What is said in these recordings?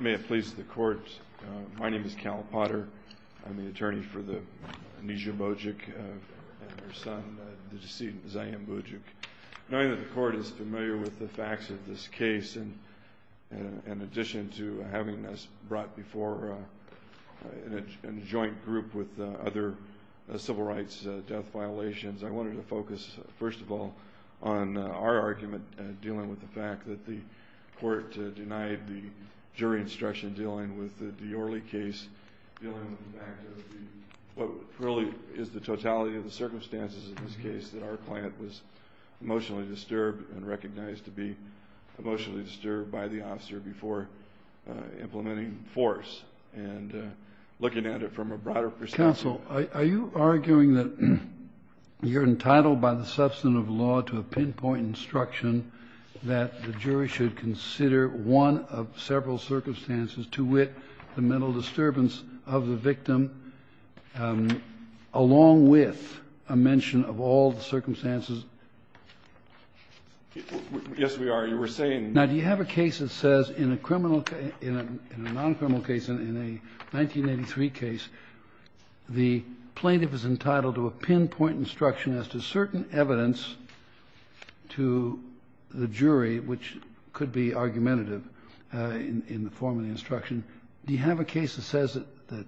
May it please the court. My name is Cal Potter. I'm the attorney for the Nisha Bojic and her son, the decedent Zaim Bojic. Knowing that the court is familiar with the facts of this case, in addition to having us brought before a joint group with other civil rights death violations, I wanted to focus, first of all, on our argument dealing with the fact that the court denied the jury instruction dealing with the Diorley case, dealing with the fact of what really is the totality of the circumstances of this case, that our client was emotionally disturbed and recognized to be emotionally disturbed by the officer before implementing force. And looking at it from a broader perspective... You're entitled by the substantive law to a pinpoint instruction that the jury should consider one of several circumstances to wit the mental disturbance of the victim, along with a mention of all the circumstances... Yes, we are. You were saying... Now, do you have a case that says in a non-criminal case, in a 1983 case, the plaintiff is entitled to a pinpoint instruction as to certain evidence to the jury, which could be argumentative in the form of the instruction. Do you have a case that says that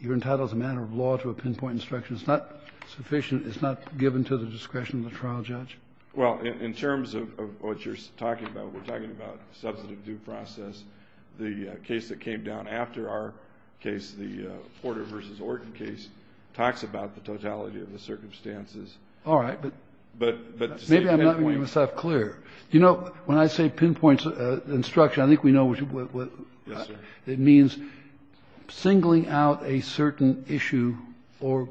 you're entitled as a matter of law to a pinpoint instruction? It's not sufficient, it's not given to the discretion of the trial judge? Well, in terms of what you're talking about, we're talking about substantive due process. The case that came down after our case, the Porter v. Orton case, talks about the totality of the circumstances. All right. But to say pinpoint... Maybe I'm not making myself clear. You know, when I say pinpoint instruction, I think we know what... Yes, sir. It means singling out a certain issue or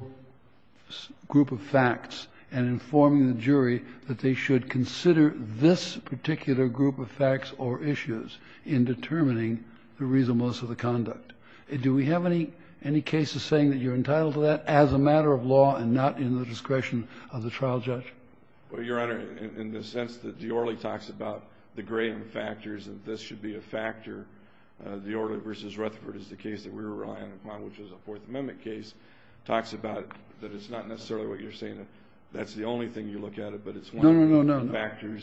group of facts and informing the jury that they should consider this particular group of facts or issues in determining the reasonableness of the conduct. Do we have any cases saying that you're entitled to that as a matter of law and not in the discretion of the trial judge? Well, Your Honor, in the sense that Diorle talks about the graying of factors and this should be a factor. Diorle v. Rutherford is the case that we're relying upon, which is a Fourth Amendment case, talks about that it's not necessarily what you're saying. That's the only thing you look at it, but it's one of the factors. No, no, no, no, no.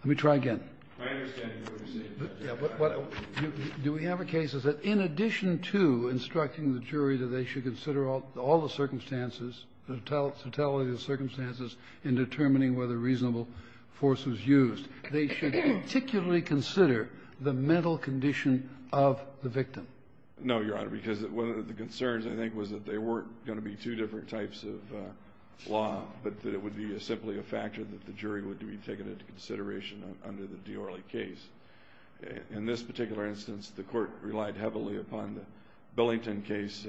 Let me try again. I understand what you're saying. But do we have a case that says, in addition to instructing the jury that they should consider all the circumstances, the totality of the circumstances in determining whether reasonable force was used, they should particularly consider the mental condition of the victim? No, Your Honor, because one of the concerns, I think, was that there weren't going to be two different types of law, but that it would be simply a factor that the jury would be taking into consideration under the Diorle case. In this particular instance, the court relied heavily upon the Billington case,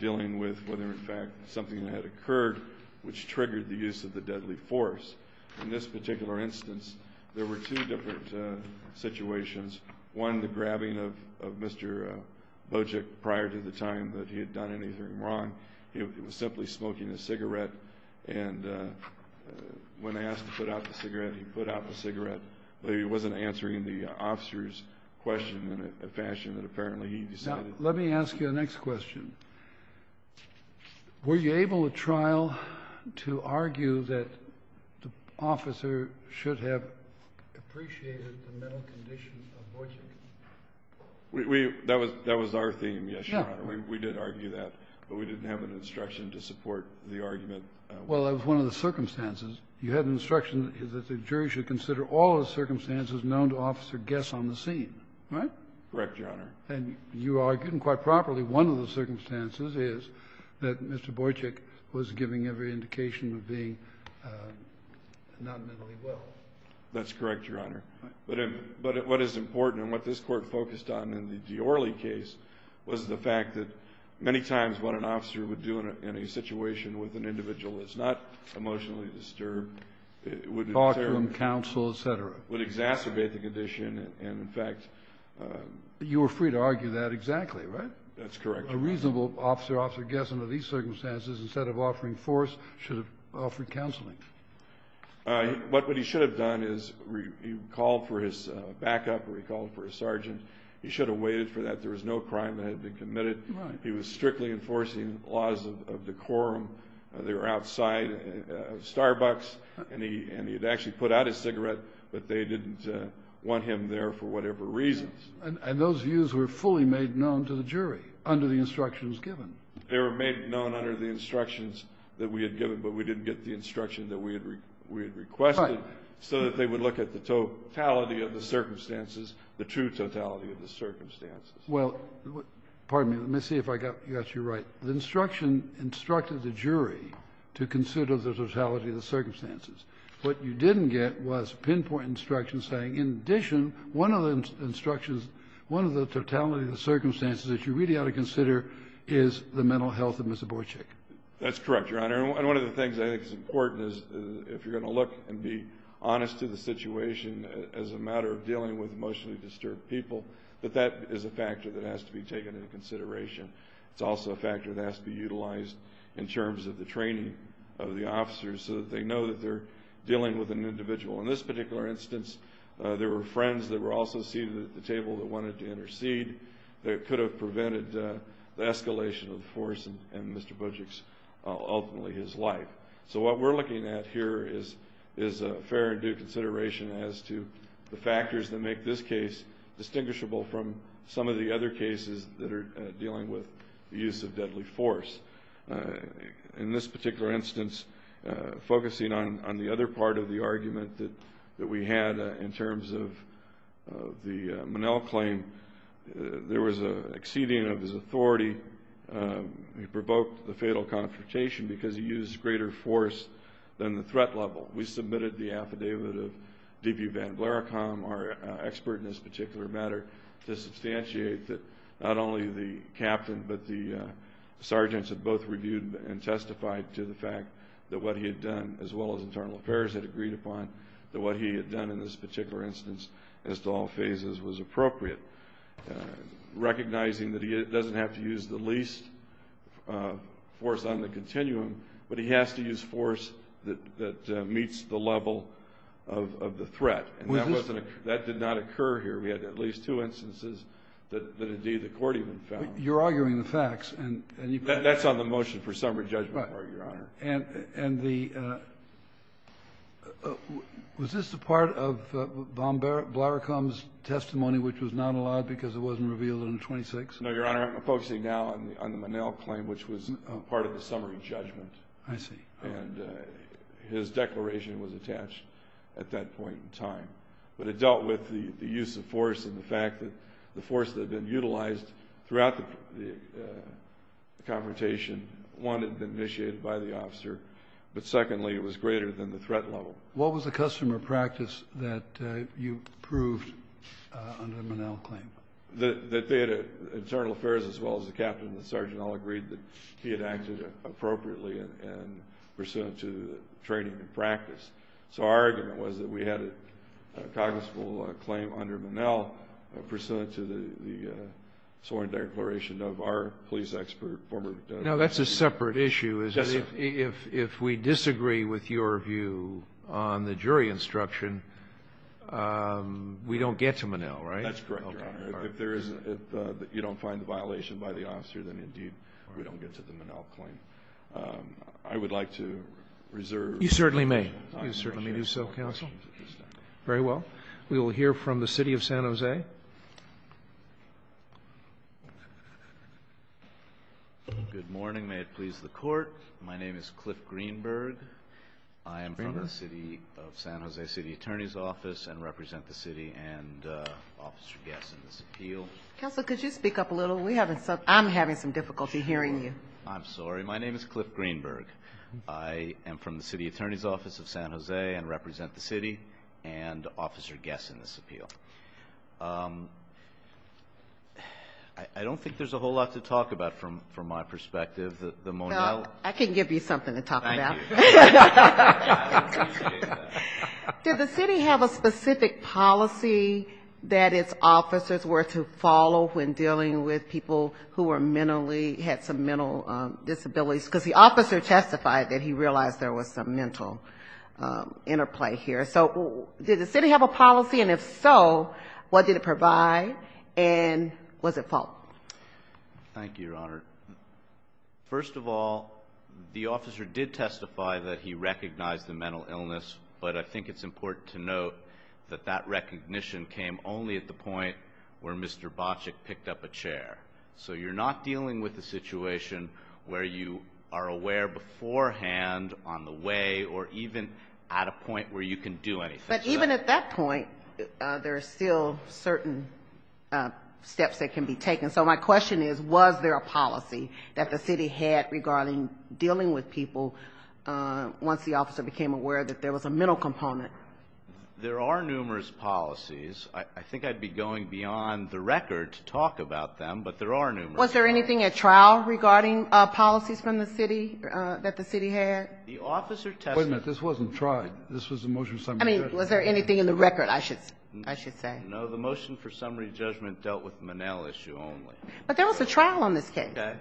dealing with whether, in fact, something had occurred which triggered the use of the deadly force. In this particular instance, there were two different situations. One, the grabbing of Mr. Bojic prior to the time that he had done anything wrong. He was simply smoking a cigarette, and when asked to put out the cigarette, he put out the cigarette. He wasn't answering the officer's question in a fashion that apparently he decided. Now, let me ask you the next question. Were you able at trial to argue that the officer should have appreciated the mental condition of Bojic? That was our theme, yes, Your Honor. We did argue that. But we didn't have an instruction to support the argument. Well, that was one of the circumstances. You had an instruction that the jury should consider all the circumstances known to officer guess on the scene, right? Correct, Your Honor. And you argued, and quite properly, one of the circumstances is that Mr. Bojic was giving every indication of being not mentally well. That's correct, Your Honor. But what is important, and what this Court focused on in the Diorle case, was the fact that many times what an officer would do in a situation with an individual that's not emotionally disturbed would exacerbate the condition and, in fact... You were free to argue that exactly, right? That's correct, Your Honor. A reasonable officer guess under these circumstances, instead of offering force, should have offered counseling. What he should have done is he called for his backup or he called for his sergeant. He should have waited for that. There was no crime that had been committed. He was strictly enforcing laws of decorum. They were outside a Starbucks, and he had actually put out his cigarette, but they didn't want him there for whatever reasons. And those views were fully made known to the jury under the instructions given. They were made known under the instructions that we had given, but we didn't get the instruction that we had requested so that they would look at the totality of the circumstances, the true totality of the circumstances. Well, pardon me. Let me see if I got you right. The instruction instructed the jury to consider the totality of the circumstances. What you didn't get was pinpoint instructions saying, in addition, one of the instructions, one of the totality of the circumstances that you really ought to consider is the mental health of Mr. Borchick. That's correct, Your Honor. And one of the things I think is important is if you're going to look and be honest to the situation as a matter of dealing with emotionally disturbed people, that that is a factor that has to be taken into consideration. It's also a factor that has to be utilized in terms of the training of the officers so that they know that they're dealing with an individual. In this particular instance, there were friends that were also seated at the table that wanted to intercede that could have prevented the escalation of the force and Mr. Borchick's, ultimately, his life. So what we're looking at here is fair and due consideration as to the factors that make this case distinguishable from some of the other cases that are dealing with the use of deadly force. In this particular instance, focusing on the other part of the argument that we had in terms of the Monell claim, there was an exceeding of his authority. He provoked the fatal confrontation because he used greater force than the threat level. We submitted the affidavit of Deputy Van Vleracombe, our expert in this particular matter, to substantiate that not only the captain but the sergeants had both reviewed and testified to the fact that what he had done, as well as internal affairs had agreed upon, that what he had done in this particular instance as to all phases was appropriate, recognizing that he doesn't have to use the least force on the continuum, but he has to use force that meets the level of the threat. And that did not occur here. We had at least two instances that, indeed, the Court even found. You're arguing the facts. That's on the motion for summary judgment part, Your Honor. Right. And the — was this a part of Van Vleracombe's testimony which was not allowed because it wasn't revealed in 26? No, Your Honor. I'm focusing now on the Monell claim, which was part of the summary judgment. I see. And his declaration was attached at that point in time. But it dealt with the use of force and the fact that the force that had been utilized throughout the confrontation, one, had been initiated by the officer, but secondly, it was greater than the threat level. What was the customer practice that you proved under the Monell claim? That they had — internal affairs, as well as the captain and the sergeant all agreed that he had acted appropriately and pursuant to training and practice. So our argument was that we had a cognizable claim under Monell pursuant to the sworn declaration of our police expert, former — Now, that's a separate issue, is it? Yes, sir. If we disagree with your view on the jury instruction, we don't get to Monell, right? That's correct, Your Honor. Okay. If you don't find the violation by the officer, then indeed we don't get to the Monell claim. I would like to reserve — You certainly may. I appreciate it. You certainly do so, counsel. Very well. We will hear from the City of San Jose. Good morning. May it please the Court. My name is Cliff Greenberg. I am from the City of San Jose City Attorney's Office and represent the City and Officer Guess in this appeal. Counsel, could you speak up a little? I'm having some difficulty hearing you. I'm sorry. My name is Cliff Greenberg. I am from the City Attorney's Office of San Jose and represent the City and Officer Guess in this appeal. I don't think there's a whole lot to talk about from my perspective. The Monell — I can give you something to talk about. Thank you. Did the city have a specific policy that its officers were to follow when dealing with people who were mentally — had some mental disabilities? Because the officer testified that he realized there was some mental interplay here. So did the city have a policy? And if so, what did it provide? Thank you, Your Honor. First of all, the officer did testify that he recognized the mental illness, but I think it's important to note that that recognition came only at the point where Mr. Boczek picked up a chair. So you're not dealing with a situation where you are aware beforehand on the way or even at a point where you can do anything. But even at that point, there are still certain steps that can be taken. So my question is, was there a policy that the city had regarding dealing with people once the officer became aware that there was a mental component? There are numerous policies. I think I'd be going beyond the record to talk about them, but there are numerous. Was there anything at trial regarding policies from the city that the city had? The officer testified — Wait a minute. This wasn't trial. This was a motion — I mean, was there anything in the record, I should say? No, the motion for summary judgment dealt with the Monell issue only. But there was a trial on this case. Okay.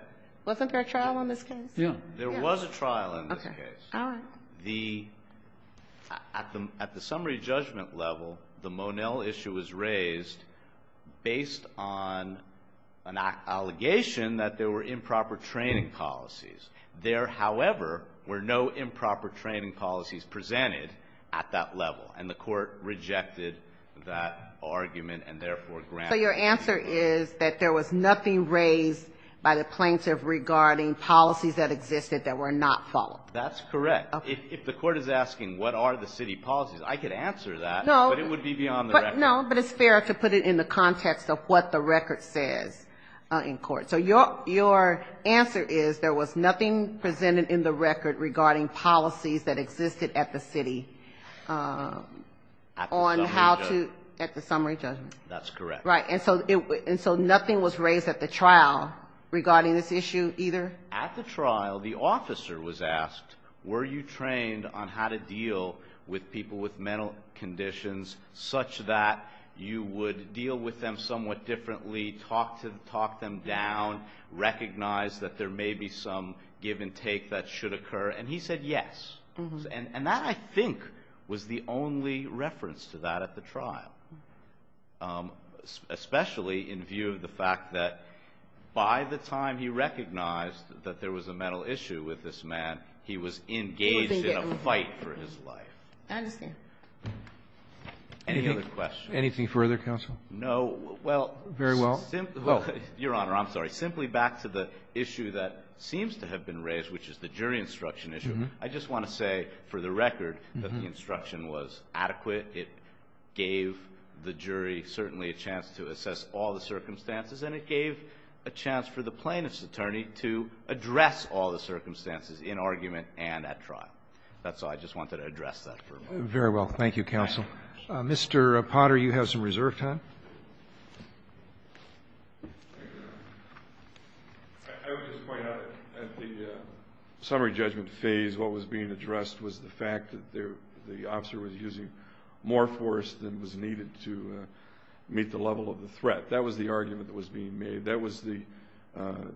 Wasn't there a trial on this case? Yeah. There was a trial on this case. Okay. All right. At the summary judgment level, the Monell issue was raised based on an allegation that there were improper training policies. There, however, were no improper training policies presented at that level, and the court rejected that argument and therefore granted — So your answer is that there was nothing raised by the plaintiff regarding policies that existed that were not followed? That's correct. If the court is asking what are the city policies, I could answer that, but it would be beyond the record. No, but it's fair to put it in the context of what the record says in court. So your answer is there was nothing presented in the record regarding policies that existed at the city on how to — At the summary judgment. At the summary judgment. That's correct. Right. And so nothing was raised at the trial regarding this issue either? At the trial, the officer was asked, were you trained on how to deal with people with mental conditions such that you would deal with them somewhat differently, talk them down, recognize that there may be some give and take that should occur? And he said yes. And that, I think, was the only reference to that at the trial, especially in view of the fact that by the time he recognized that there was a mental issue with this man, he was engaged in a fight for his life. I understand. Any other questions? Anything further, counsel? No. Well — Very well. Your Honor, I'm sorry. Simply back to the issue that seems to have been raised, which is the jury instruction issue, I just want to say for the record that the instruction was adequate. It gave the jury certainly a chance to assess all the circumstances, and it gave a chance for the plaintiff's attorney to address all the circumstances in argument and at trial. That's all. I just wanted to address that for a moment. Very well. Thank you, counsel. Mr. Potter, you have some reserve time. Thank you, Your Honor. I would just point out that at the summary judgment phase, what was being addressed was the fact that the officer was using more force than was needed to meet the level of the threat. That was the argument that was being made. That was the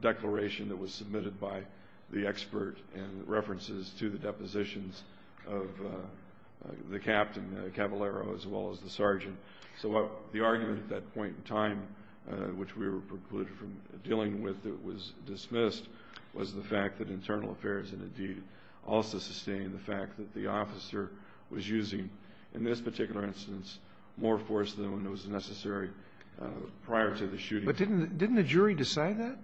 declaration that was submitted by the expert in references to the depositions of the captain, the cavalero, as well as the sergeant. So the argument at that point in time, which we were precluded from dealing with, it was dismissed, was the fact that internal affairs and the deed also sustained the fact that the officer was using, in this particular instance, more force than was necessary prior to the shooting. But didn't the jury decide that?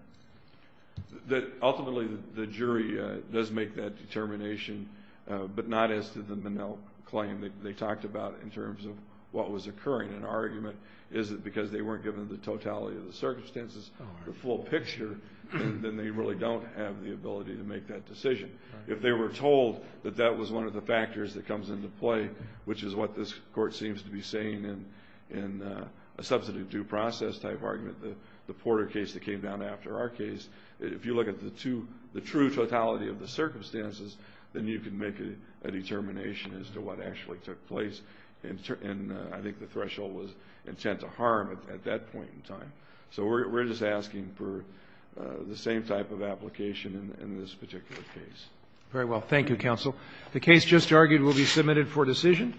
Ultimately, the jury does make that determination, but not as to the Minnell claim. They talked about it in terms of what was occurring. An argument is that because they weren't given the totality of the circumstances, the full picture, then they really don't have the ability to make that decision. If they were told that that was one of the factors that comes into play, which is what this court seems to be saying in a substantive due process type argument, the Porter case that came down after our case, if you look at the true totality of the circumstances, then you can make a determination as to what actually took place. And I think the threshold was intent to harm at that point in time. So we're just asking for the same type of application in this particular case. Very well. Thank you, counsel. The case just argued will be submitted for decision.